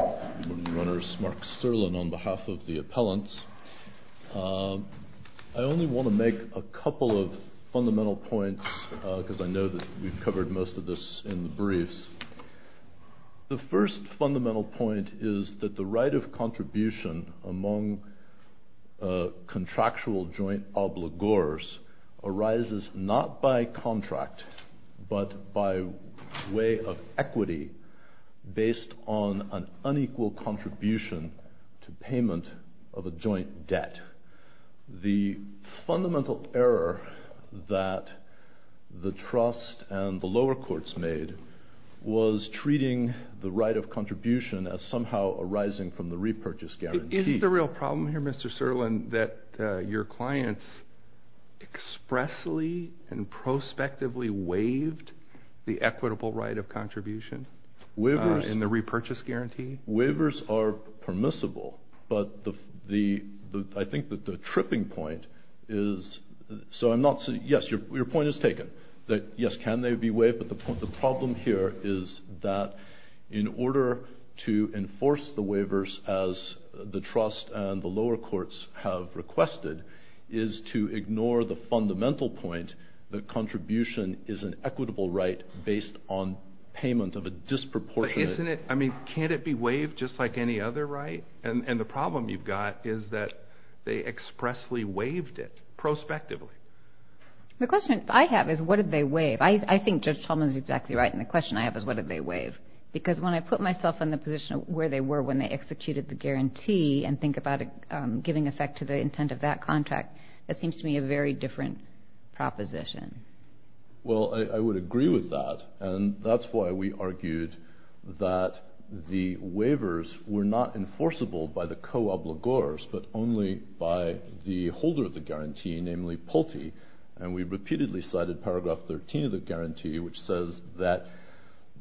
Morning Runners, Mark Serlin on behalf of the appellants. I only want to make a couple of fundamental points because I know that we've covered most of this in the briefs. The first fundamental point is that the right of contribution among contractual joint obligors arises not by contract but by way of equity based on an unequal contribution to payment of a joint debt. The fundamental error that the trust and the lower courts made was treating the right of contribution as somehow arising from the repurchase guarantee. Isn't the real problem here, Mr. Serlin, that your clients expressly and prospectively waived the equitable right of contribution in the repurchase guarantee? Waivers are permissible, but I think that the tripping point is that in order to enforce the waivers as the trust and the lower courts have requested is to ignore the fundamental point that contribution is an equitable right based on payment of a disproportionate amount. I mean, can't it be waived just like any other right? And the problem you've got is that they expressly waived it prospectively. The question I have is what did they waive? I think Judge Tolman is exactly right and the question I have is what did they waive? Because when I put myself in the position of where they were when they executed the guarantee and think about it giving effect to the intent of that contract, that seems to me a very different proposition. Well, I would agree with that and that's why we argued that the waivers were not enforceable by the co-obligors but only by the holder of the guarantee, namely Pulte. And we repeatedly cited paragraph 13 of the guarantee which says that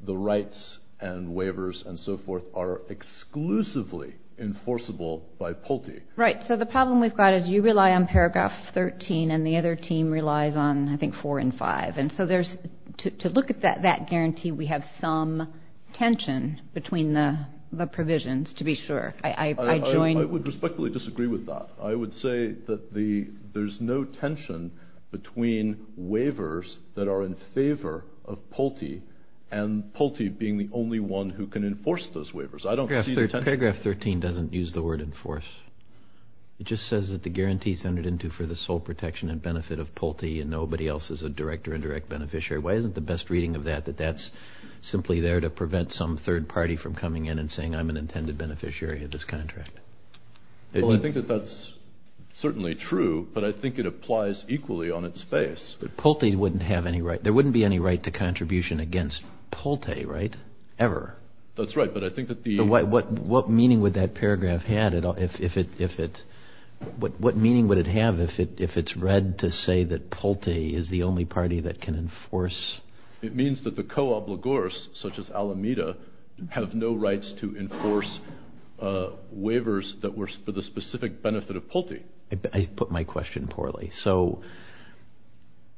the rights and waivers and so forth are exclusively enforceable by Pulte. Right. So the problem we've got is you rely on paragraph 13 and the other team relies on I think four and five. And so to look at that guarantee we have some tension between the provisions to be sure. I would respectfully disagree with that. I would say that there's no tension between waivers that are in favor of Pulte and Pulte being the only one who can enforce those waivers. Paragraph 13 doesn't use the word enforce. It just says that the guarantee is entered into for the sole protection and benefit of Pulte and nobody else is a direct or indirect beneficiary. Why isn't the best reading of that that that's simply there to prevent some third party from coming in and saying I'm an intended beneficiary of this contract? Well, I think that that's certainly true but I think it applies equally on its face. But Pulte wouldn't have any right, there wouldn't be any right to contribution against Pulte, right, ever. That's right but I think that the... What meaning would that paragraph have if it's read to say that Pulte is the only party that can enforce... It means that the co-obligors such as Alameda have no rights to enforce waivers that were for the specific benefit of Pulte. I put my question poorly. So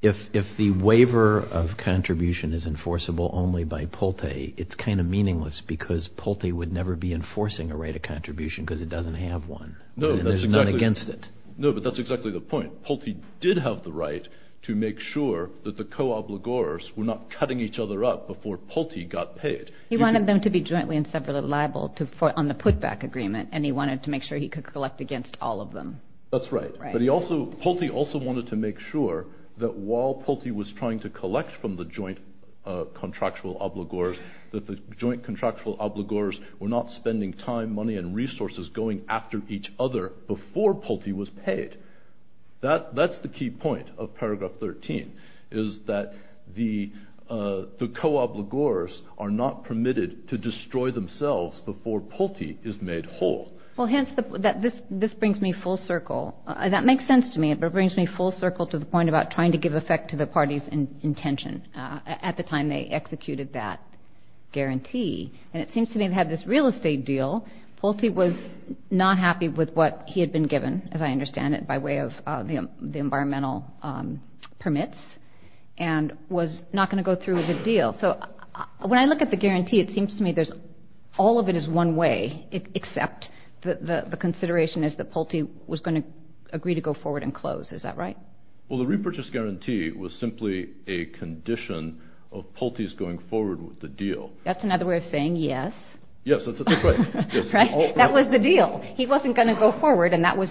if the waiver of contribution is enforceable only by Pulte, it's kind of meaningless because Pulte would never be enforcing a right of contribution because it doesn't have one. No, that's exactly... And there's none against it. No, but that's exactly the point. Pulte did have the right to make sure that the co-obligors were not cutting each other up before Pulte got paid. He wanted them to be jointly and separately liable on the putback agreement and he wanted to make sure he could collect against all of them. That's right, but Pulte also wanted to make sure that while Pulte was trying to collect from the joint contractual obligors, that the joint contractual obligors were not spending time, money and resources going after each other before Pulte was paid. That's the key point of paragraph 13, is that the co-obligors are not permitted to destroy themselves before Pulte is made whole. Well, hence, this brings me full circle. That makes sense to me. It brings me full circle to the point about trying to give effect to the party's intention at the time they executed that guarantee. And it seems to me they had this real estate deal. Pulte was not happy with what he had been given, as I understand it, by way of the environmental permits and was not going to go through with the deal. So when I look at the guarantee, it seems to me all of it is one way, except the consideration is that Pulte was going to agree to go forward and close. Is that right? Well, the repurchase guarantee was simply a condition of Pulte's going forward with the deal. That's another way of saying yes. Yes, that's exactly right. Right? That was the deal. He wasn't going to go forward and that was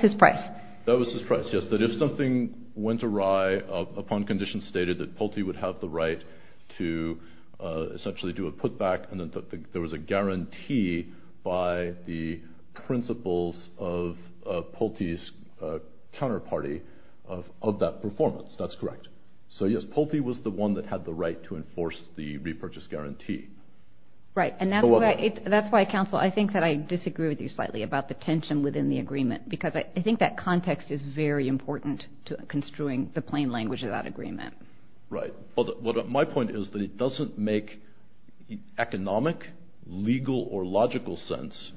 his price. That was his price, yes, that if something went awry upon conditions stated that Pulte would have the right to essentially do a putback and that there was a guarantee by the principles of Pulte's counterparty of that performance. That's correct. So yes, Pulte was the one that had the right to enforce the repurchase guarantee. Right, and that's why, counsel, I think that I disagree with you slightly about the tension within the agreement because I think that context is very important to construing the plain language of that agreement. Right. My point is that it doesn't make economic, legal, or logical sense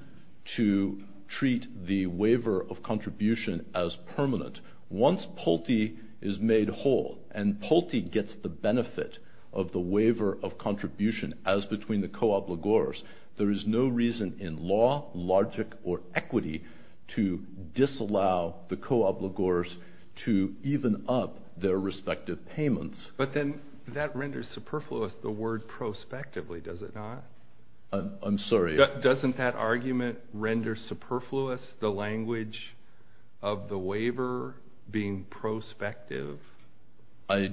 to treat the waiver of contribution as permanent. Once Pulte is made whole and Pulte gets the benefit of the waiver of contribution as between the co-obligors, there is no reason in law, logic, or equity to disallow the co-obligors to even up their respective payments. But then that renders superfluous the word prospectively, does it not? I'm sorry? Doesn't that argument render superfluous the language of the waiver being prospective? I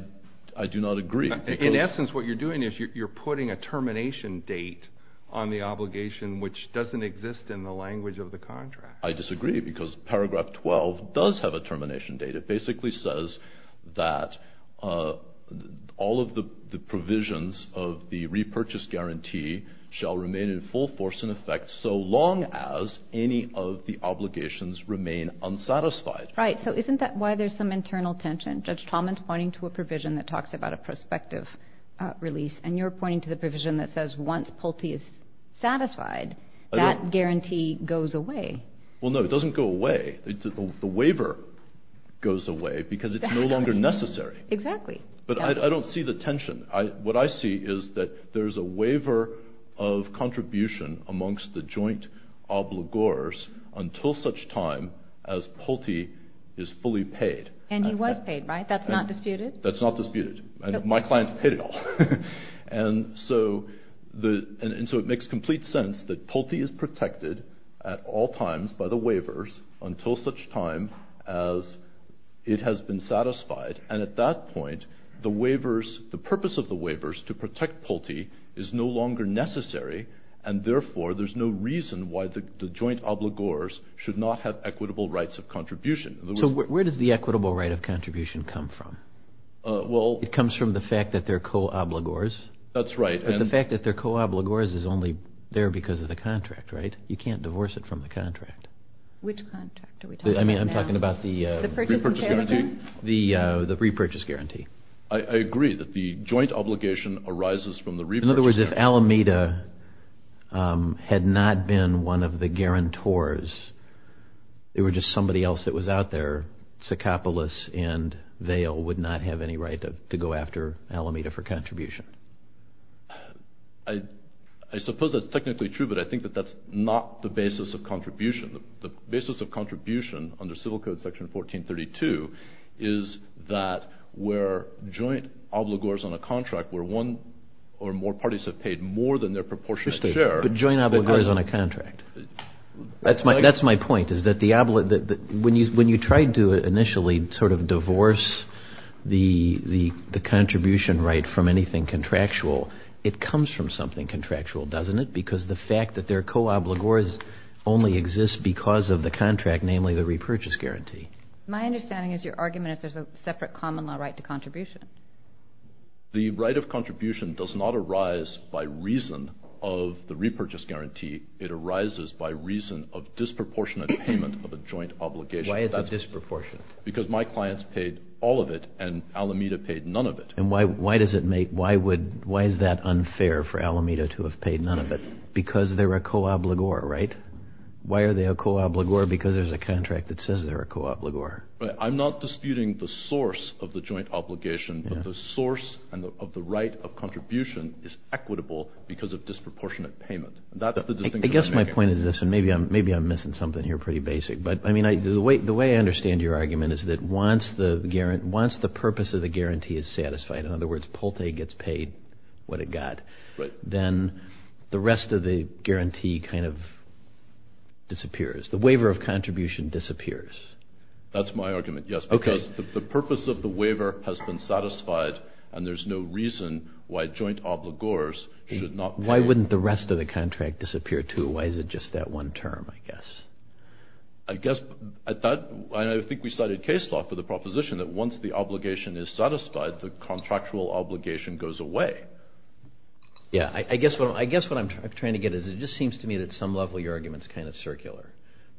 do not agree. In essence what you're doing is you're putting a termination date on the obligation which doesn't exist in the language of the contract. I disagree because paragraph 12 does have a termination date. It basically says that all of the provisions of the repurchase guarantee shall remain in full force in effect so long as any of the obligations remain unsatisfied. Right. So isn't that why there's some internal tension? Judge Talman's pointing to a provision that talks about a prospective release and you're pointing to the provision that says once Pulte is satisfied, that guarantee goes away. Well no, it doesn't go away. The waiver goes away because it's no longer necessary. Exactly. But I don't see the tension. What I see is that there's a waiver of contribution amongst the joint obligors until such time as Pulte is fully paid. And he was paid, right? That's not disputed? That's not disputed. My clients paid it all. And so it makes complete sense that Pulte is protected at all times by the waivers until such time as it has been satisfied and at that point the purpose of the waivers to protect Pulte is no longer necessary and therefore there's no reason why the joint obligors should not have equitable rights of contribution. So where does the equitable right of contribution come from? It comes from the fact that they're co-obligors. That's right. But the fact that they're co-obligors is only there because of the contract, right? You can't divorce it from the contract. Which contract are we talking about? I'm talking about the repurchase guarantee. In other words, if Alameda had not been one of the guarantors, they were just somebody else that was out there, Tsakopoulos and Vail would not have any right to go after Alameda for contribution. I suppose that's technically true but I think that that's not the basis of contribution. The basis of contribution under civil code section 1432 is that where joint obligors on a contract where one or more parties have paid more than their proportionate share. But joint obligors on a contract. That's my point is that when you tried to initially sort of divorce the contribution right from anything contractual, it comes from something contractual, doesn't it? Because the fact that they're co-obligors only exists because of the contract, namely the repurchase guarantee. My understanding is your argument is there's a separate common law right to contribution. The right of contribution does not arise by reason of the repurchase guarantee. It arises by reason of disproportionate payment of a joint obligation. Why is it disproportionate? Because my clients paid all of it and Alameda paid none of it. And why is that unfair for Alameda to have paid none of it? Because they're a co-obligor, right? Why are they a co-obligor? Because there's a contract that says they're a co-obligor. I'm not disputing the source of the joint obligation, but the source of the right of contribution is equitable because of disproportionate payment. That's the distinction I'm making. I guess my point is this, and maybe I'm missing something here pretty basic. But, I mean, the way I understand your argument is that once the purpose of the guarantee is satisfied, in other words, Polte gets paid what it got, then the rest of the guarantee kind of disappears. The waiver of contribution disappears. That's my argument, yes. Because the purpose of the waiver has been satisfied and there's no reason why joint obligors should not pay. Why wouldn't the rest of the contract disappear, too? Why is it just that one term, I guess? I guess, and I think we cited case law for the proposition that once the obligation is satisfied, the contractual obligation goes away. Yeah, I guess what I'm trying to get at is it just seems to me that at some level your argument is kind of circular.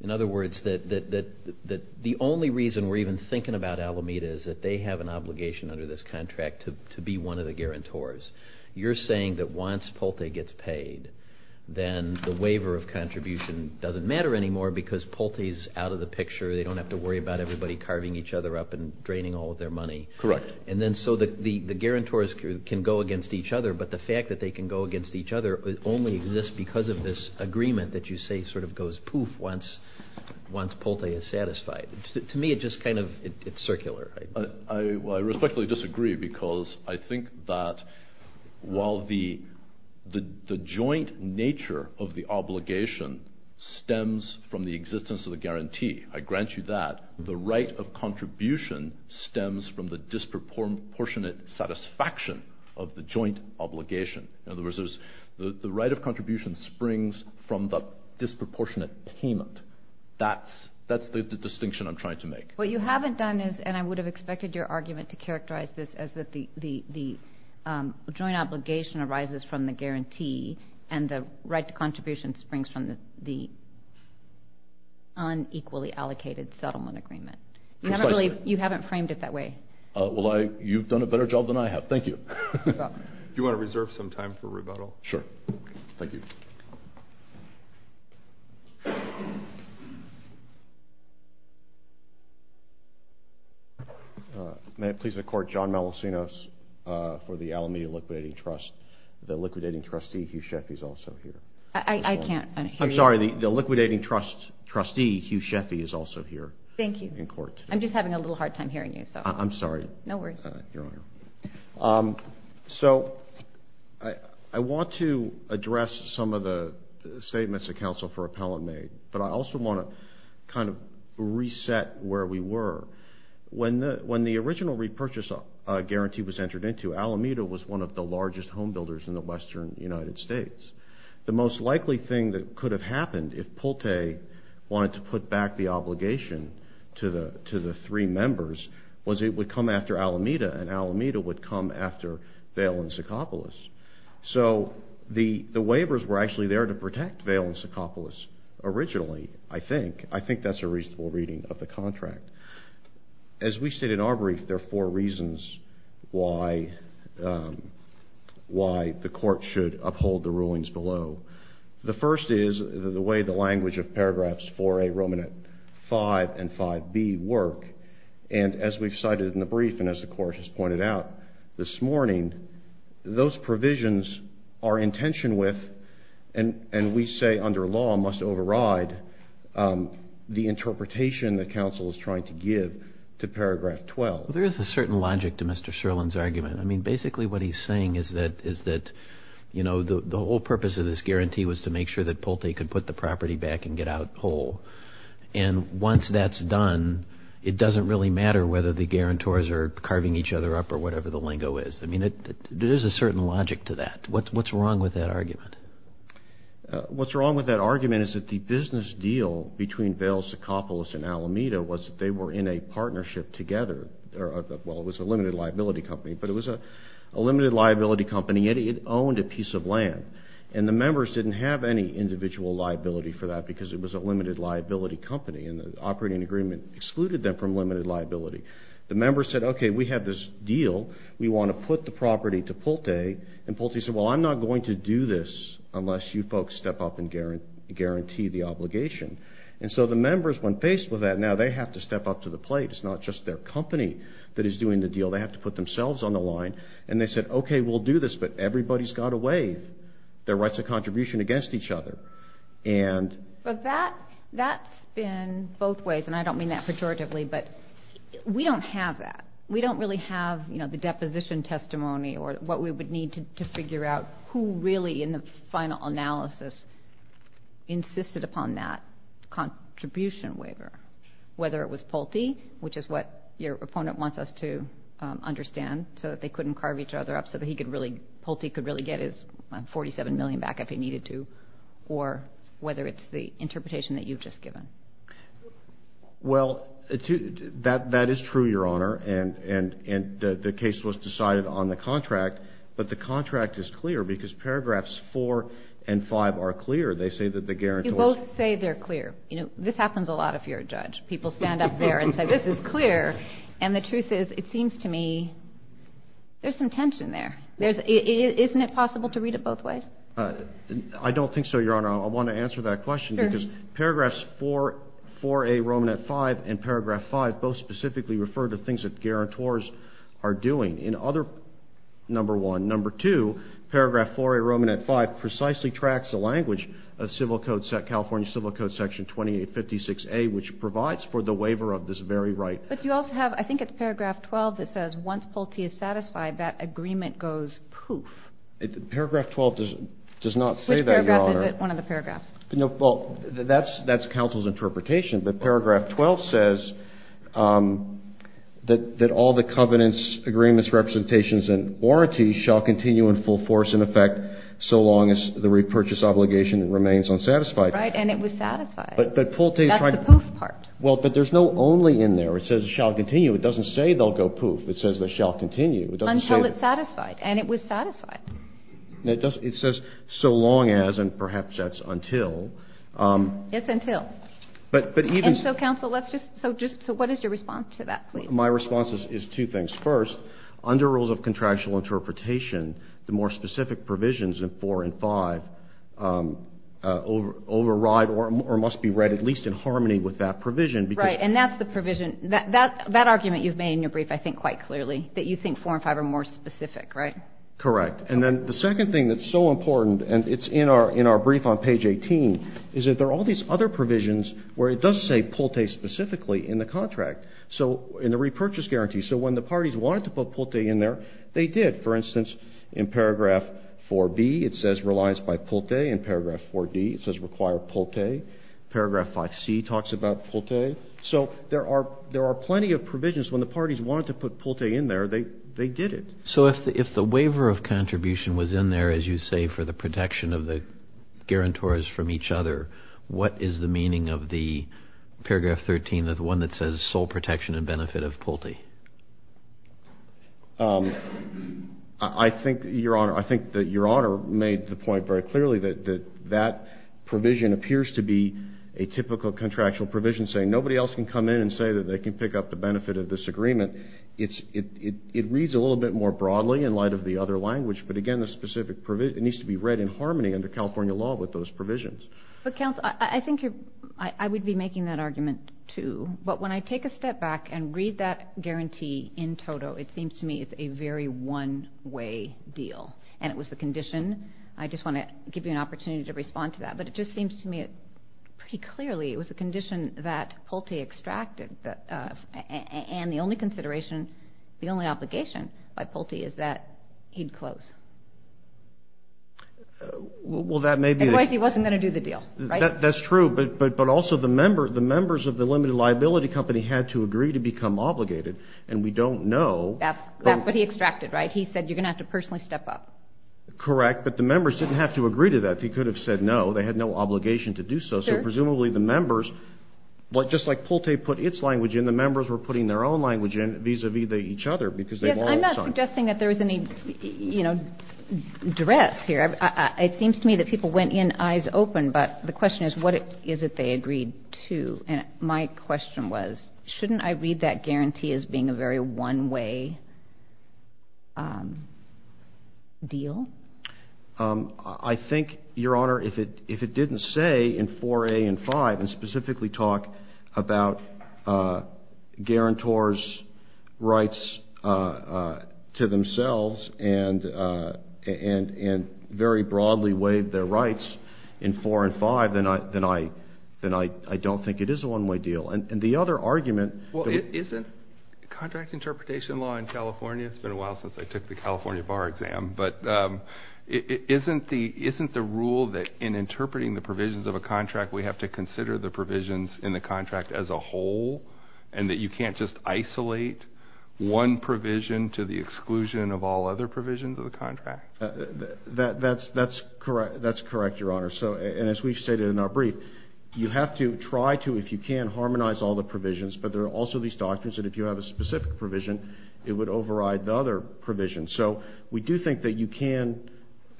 In other words, the only reason we're even thinking about Alameda is that they have an obligation under this contract to be one of the guarantors. You're saying that once Polte gets paid, then the waiver of contribution doesn't matter anymore because Polte's out of the picture. They don't have to worry about everybody carving each other up and draining all of their money. Correct. And then so the guarantors can go against each other, but the fact that they can go against each other only exists because of this agreement that you say sort of goes poof once Polte is satisfied. To me, it's just kind of circular. I respectfully disagree because I think that while the joint nature of the obligation stems from the existence of the guarantee, I grant you that, the right of contribution stems from the disproportionate satisfaction of the joint obligation. In other words, the right of contribution springs from the disproportionate payment. That's the distinction I'm trying to make. What you haven't done is, and I would have expected your argument to characterize this as that the joint obligation arises from the guarantee and the right to contribution springs from the unequally allocated settlement agreement. Precisely. You haven't framed it that way. Well, you've done a better job than I have. Thank you. You're welcome. Do you want to reserve some time for rebuttal? Sure. Thank you. May it please the court, John Malacinos for the Alameda Liquidating Trust. The liquidating trustee, Hugh Sheffy, is also here. I can't hear you. I'm sorry. The liquidating trustee, Hugh Sheffy, is also here in court. Thank you. I'm just having a little hard time hearing you. I'm sorry. No worries. You're on. So I want to address some of the statements the counsel for appellant made, but I also want to kind of reset where we were. When the original repurchase guarantee was entered into, Alameda was one of the largest home builders in the western United States. The most likely thing that could have happened if Pulte wanted to put back the obligation to the three members was it would come after Alameda and Alameda would come after Vail and Secopolis. So the waivers were actually there to protect Vail and Secopolis originally, I think. I think that's a reasonable reading of the contract. As we stated in our brief, there are four reasons why the court should uphold the rulings below. The first is the way the language of paragraphs 4A, Roman at 5, and 5B work. And as we've cited in the brief and as the court has pointed out this morning, those provisions are in tension with, and we say under law must override, the interpretation that counsel is trying to give to paragraph 12. Well, there is a certain logic to Mr. Sherlin's argument. I mean, basically what he's saying is that the whole purpose of this guarantee was to make sure that Pulte could put the property back and get out whole. And once that's done, it doesn't really matter whether the guarantors are carving each other up or whatever the lingo is. I mean, there's a certain logic to that. What's wrong with that argument? What's wrong with that argument is that the business deal between Vail, Secopolis, and Alameda was that they were in a partnership together. Well, it was a limited liability company, but it was a limited liability company. And yet it owned a piece of land. And the members didn't have any individual liability for that because it was a limited liability company. And the operating agreement excluded them from limited liability. The members said, okay, we have this deal. We want to put the property to Pulte. And Pulte said, well, I'm not going to do this unless you folks step up and guarantee the obligation. And so the members, when faced with that, now they have to step up to the plate. It's not just their company that is doing the deal. They have to put themselves on the line. And they said, okay, we'll do this, but everybody's got to waive their rights of contribution against each other. But that's been both ways, and I don't mean that pejoratively, but we don't have that. We don't really have the deposition testimony or what we would need to figure out who really, in the final analysis, insisted upon that contribution waiver, whether it was Pulte, which is what your opponent wants us to understand, so that they couldn't carve each other up, so that Pulte could really get his $47 million back if he needed to, or whether it's the interpretation that you've just given. Well, that is true, Your Honor, and the case was decided on the contract. But the contract is clear because paragraphs 4 and 5 are clear. They say that the guarantee was clear. You both say they're clear. You know, this happens a lot if you're a judge. People stand up there and say, this is clear. And the truth is, it seems to me there's some tension there. Isn't it possible to read it both ways? I don't think so, Your Honor. I want to answer that question because paragraphs 4A, Roman at 5, and paragraph 5 both specifically refer to things that guarantors are doing. In other, number one. Number two, paragraph 4A, Roman at 5, precisely tracks the language of California Civil Code Section 2856A, which provides for the waiver of this very right. But you also have, I think it's paragraph 12 that says once Pulte is satisfied, that agreement goes poof. Paragraph 12 does not say that, Your Honor. Which paragraph is it? One of the paragraphs. Well, that's counsel's interpretation. But paragraph 12 says that all the covenants, agreements, representations, and warranties shall continue in full force and effect so long as the repurchase obligation remains unsatisfied. Right. And it was satisfied. But Pulte's trying to. That's the poof part. Well, but there's no only in there. It says shall continue. It doesn't say they'll go poof. It says they shall continue. It doesn't say. Until it's satisfied. And it was satisfied. It says so long as, and perhaps that's until. It's until. But even. And so, counsel, let's just. So what is your response to that, please? My response is two things. First, under rules of contractual interpretation, the more specific provisions in four and five override or must be read at least in harmony with that provision. Right. And that's the provision. That argument you've made in your brief I think quite clearly, that you think four and five are more specific, right? Correct. And then the second thing that's so important, and it's in our brief on page 18, is that there are all these other provisions where it does say Pulte specifically in the contract. So in the repurchase guarantee. So when the parties wanted to put Pulte in there, they did. For instance, in paragraph 4B, it says relies by Pulte. In paragraph 4D, it says require Pulte. Paragraph 5C talks about Pulte. So there are plenty of provisions. When the parties wanted to put Pulte in there, they did it. So if the waiver of contribution was in there, as you say, for the protection of the guarantors from each other, what is the meaning of the paragraph 13, the one that says sole protection and benefit of Pulte? I think, Your Honor, I think that Your Honor made the point very clearly that that provision appears to be a typical contractual provision saying nobody else can come in and say that they can pick up the benefit of this agreement. It reads a little bit more broadly in light of the other language, but again, the specific provision, it needs to be read in harmony under California law with those provisions. But, counsel, I think you're – I would be making that argument, too, but when I take a step back and read that guarantee in toto, it seems to me it's a very one-way deal, and it was the condition – I just want to give you an opportunity to respond to that, but it just seems to me pretty clearly it was a condition that Pulte extracted, and the only consideration, the only obligation by Pulte is that he'd close. Well, that may be – Otherwise he wasn't going to do the deal, right? That's true, but also the members of the limited liability company had to agree to become obligated, and we don't know – That's what he extracted, right? He said you're going to have to personally step up. Correct, but the members didn't have to agree to that. He could have said no. They had no obligation to do so. So presumably the members – just like Pulte put its language in, the members were putting their own language in vis-à-vis each other Yes, I'm not suggesting that there was any, you know, duress here. It seems to me that people went in eyes open, but the question is, what is it they agreed to? And my question was, shouldn't I read that guarantee as being a very one-way deal? I think, Your Honor, if it didn't say in 4A and 5, and specifically talk about guarantors' rights to themselves and very broadly waive their rights in 4 and 5, then I don't think it is a one-way deal. And the other argument – Well, isn't contract interpretation law in California – it's been a while since I took the California bar exam – but isn't the rule that in interpreting the provisions of a contract we have to consider the provisions in the contract as a whole and that you can't just isolate one provision to the exclusion of all other provisions of the contract? That's correct, Your Honor. And as we've stated in our brief, you have to try to, if you can, harmonize all the provisions, but there are also these doctrines that if you have a specific provision, it would override the other provisions. So we do think that you can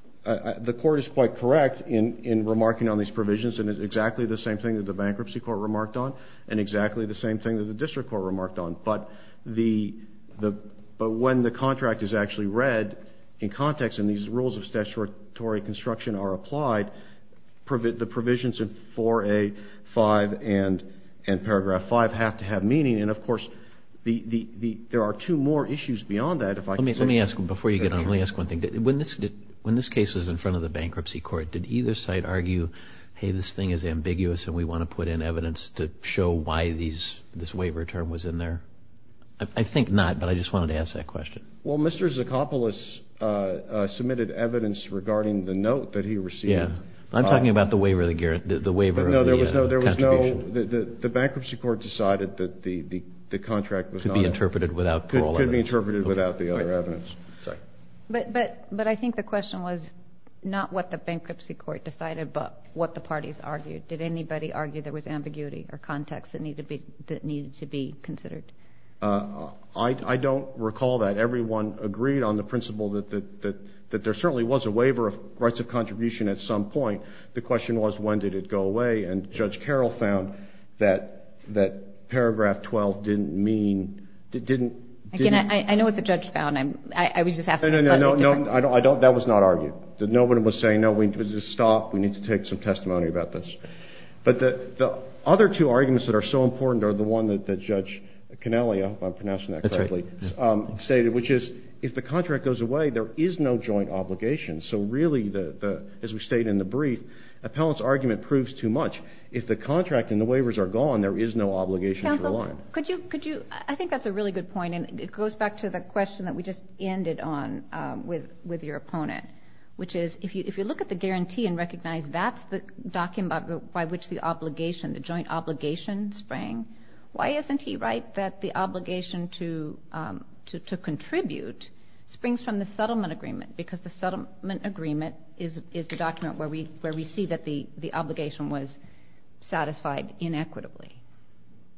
– the Court is quite correct in remarking on these provisions and it's exactly the same thing that the Bankruptcy Court remarked on and exactly the same thing that the District Court remarked on. But when the contract is actually read in context and these rules of statutory construction are applied, the provisions in 4A, 5, and paragraph 5 have to have meaning. And, of course, there are two more issues beyond that. Let me ask, before you get on, let me ask one thing. When this case was in front of the Bankruptcy Court, did either side argue, hey, this thing is ambiguous and we want to put in evidence to show why this waiver term was in there? I think not, but I just wanted to ask that question. Well, Mr. Zacopoulos submitted evidence regarding the note that he received. Yeah. I'm talking about the waiver of the – the waiver of the contribution. No, there was no – the Bankruptcy Court decided that the contract was not – Could be interpreted without parole evidence. Could be interpreted without the other evidence. But I think the question was not what the Bankruptcy Court decided, but what the parties argued. Did anybody argue there was ambiguity or context that needed to be considered? I don't recall that. Everyone agreed on the principle that there certainly was a waiver of rights of contribution at some point. The question was when did it go away, and Judge Carroll found that paragraph 12 didn't mean – didn't – Again, I know what the judge found. I was just asking – No, no, no, no. I don't – that was not argued. Nobody was saying, no, we need to stop. We need to take some testimony about this. But the other two arguments that are so important are the one that Judge Cannelia – I hope I'm pronouncing that correctly – That's right. – stated, which is if the contract goes away, there is no joint obligation. So really, as we state in the brief, appellant's argument proves too much. If the contract and the waivers are gone, there is no obligation to the line. Could you – I think that's a really good point, and it goes back to the question that we just ended on with your opponent, which is if you look at the guarantee and recognize that's the document by which the obligation, the joint obligation sprang, why isn't he right that the obligation to contribute springs from the settlement agreement because the settlement agreement is the document where we see that the obligation was satisfied inequitably,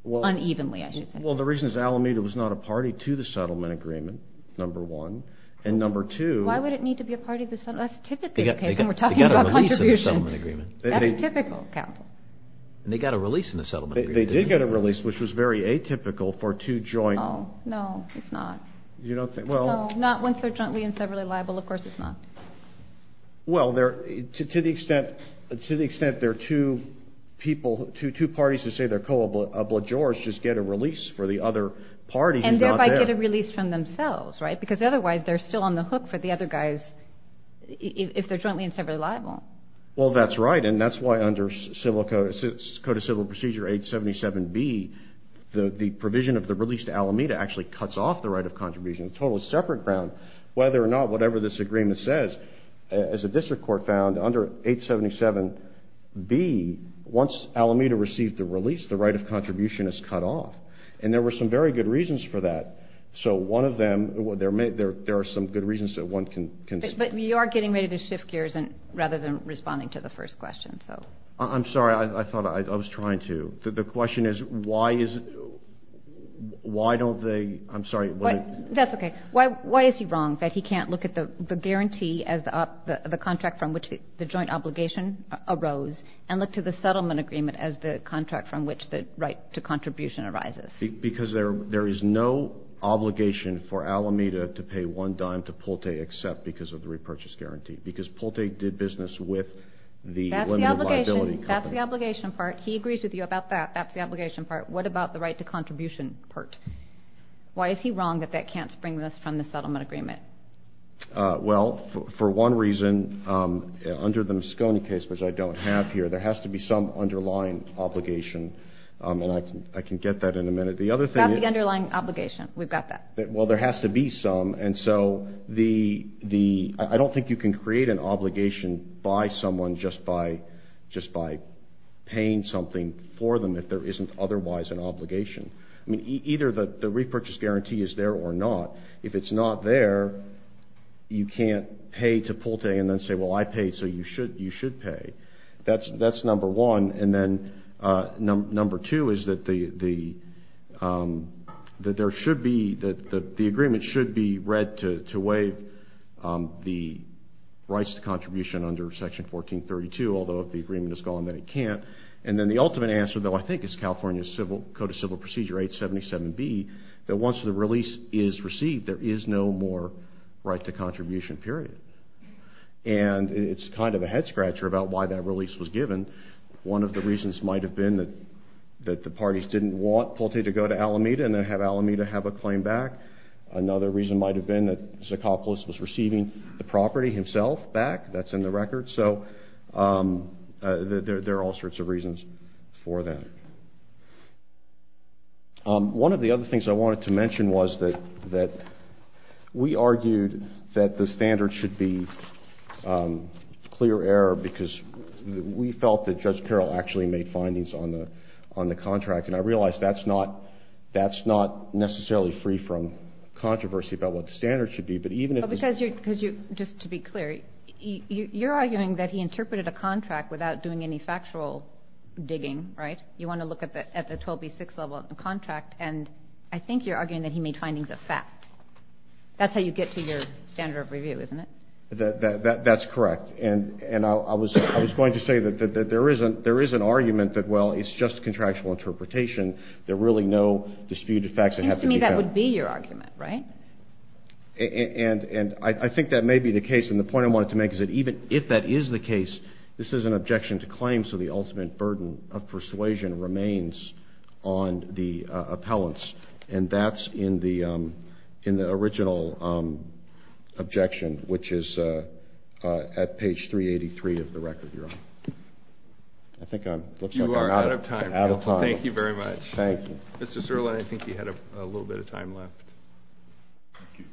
unevenly, I should say. Well, the reason is Alameda was not a party to the settlement agreement, number one. And number two – Why would it need to be a party to the settlement – that's a typical case when we're talking about contribution. They got a release in the settlement agreement. That's typical, counsel. And they got a release in the settlement agreement. They did get a release, which was very atypical for two joint – Oh, no, it's not. You don't think – well – No, not once they're jointly and severally liable. Of course it's not. Well, to the extent there are two people, two parties who say they're co-obligors just get a release for the other party who's not there. And thereby get a release from themselves, right? Because otherwise they're still on the hook for the other guys if they're jointly and severally liable. Well, that's right, and that's why under Code of Civil Procedure 877B the provision of the release to Alameda actually cuts off the right of contribution. On a totally separate ground, whether or not whatever this agreement says, as the district court found, under 877B, once Alameda received the release, the right of contribution is cut off. And there were some very good reasons for that. So one of them – there are some good reasons that one can – But you are getting ready to shift gears rather than responding to the first question, so. I'm sorry. I thought I was trying to. The question is why is – why don't they – I'm sorry. That's okay. Why is he wrong that he can't look at the guarantee as the contract from which the joint obligation arose and look to the settlement agreement as the contract from which the right to contribution arises? Because there is no obligation for Alameda to pay one dime to Pulte except because of the repurchase guarantee, because Pulte did business with the limited liability company. That's the obligation part. He agrees with you about that. That's the obligation part. What about the right to contribution part? Why is he wrong that that can't spring this from the settlement agreement? Well, for one reason, under the Moscone case, which I don't have here, there has to be some underlying obligation. And I can get that in a minute. The other thing is – About the underlying obligation. We've got that. Well, there has to be some. And so the – I don't think you can create an obligation by someone just by paying something for them if there isn't otherwise an obligation. I mean, either the repurchase guarantee is there or not. If it's not there, you can't pay to Pulte and then say, well, I paid, so you should pay. That's number one. And then number two is that there should be – that the agreement should be read to waive the rights to contribution under Section 1432, although if the agreement is gone, then it can't. And then the ultimate answer, though, I think, is California Code of Civil Procedure 877B, that once the release is received, there is no more right to contribution, period. And it's kind of a head-scratcher about why that release was given. One of the reasons might have been that the parties didn't want Pulte to go to Alameda and then have Alameda have a claim back. Another reason might have been that Socopolis was receiving the property himself back. That's in the record. So there are all sorts of reasons for that. One of the other things I wanted to mention was that we argued that the standard should be clear error because we felt that Judge Peral actually made findings on the contract, and I realize that's not necessarily free from controversy about what the standard should be. Just to be clear, you're arguing that he interpreted a contract without doing any factual digging, right? You want to look at the 12B6 level of the contract, and I think you're arguing that he made findings of fact. That's how you get to your standard of review, isn't it? That's correct. And I was going to say that there is an argument that, well, it's just contractual interpretation. There are really no disputed facts that have to be found. It seems to me that would be your argument, right? And I think that may be the case, and the point I wanted to make is that even if that is the case, this is an objection to claim, so the ultimate burden of persuasion remains on the appellants, and that's in the original objection, which is at page 383 of the record. You're on. I think I'm out of time. You are out of time. Thank you very much. Thank you. Mr. Sirlein, I think you had a little bit of time left. Thank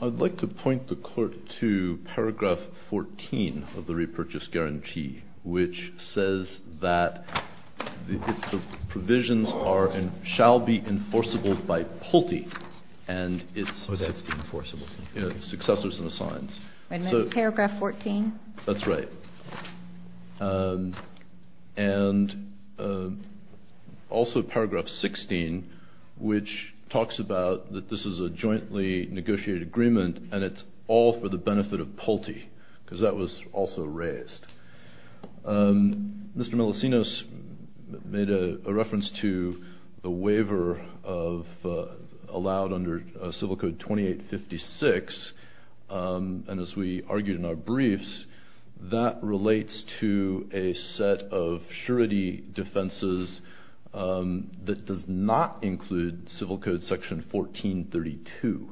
you. I'd like to point the court to paragraph 14 of the repurchase guarantee, which says that the provisions shall be enforceable by Pulte and its successors and assigns. Paragraph 14? That's right. And also paragraph 16, which talks about that this is a jointly negotiated agreement and it's all for the benefit of Pulte, because that was also raised. Mr. Melisinos made a reference to the waiver allowed under Civil Code 2856, and as we argued in our briefs, that relates to a set of surety defenses that does not include Civil Code section 1432.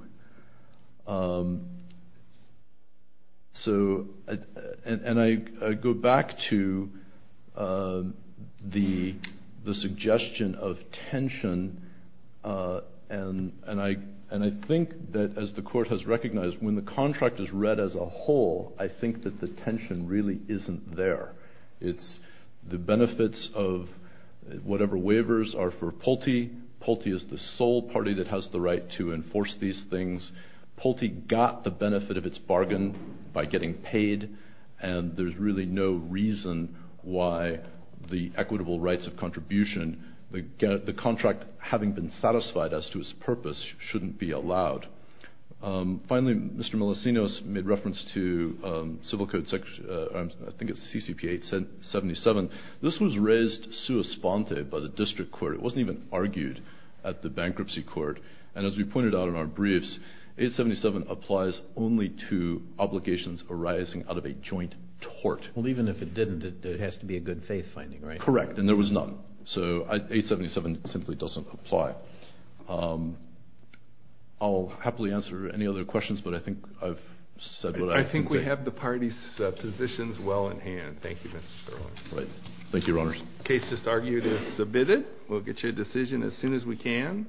And I go back to the suggestion of tension, and I think that, as the court has recognized, when the contract is read as a whole, I think that the tension really isn't there. It's the benefits of whatever waivers are for Pulte. Pulte is the sole party that has the right to enforce these things. Pulte got the benefit of its bargain by getting paid, and there's really no reason why the equitable rights of contribution, the contract having been satisfied as to its purpose, shouldn't be allowed. Finally, Mr. Melisinos made reference to Civil Code section, I think it's CCP 877. This was raised sua sponte by the district court. It wasn't even argued at the bankruptcy court, and as we pointed out in our briefs, 877 applies only to obligations arising out of a joint tort. Well, even if it didn't, it has to be a good faith finding, right? Correct, and there was none. So 877 simply doesn't apply. I'll happily answer any other questions, but I think I've said what I can say. I think we have the parties' positions well in hand. Thank you, Mr. Sterling. Thank you, Your Honors. The case just argued is submitted. We'll get you a decision as soon as we can.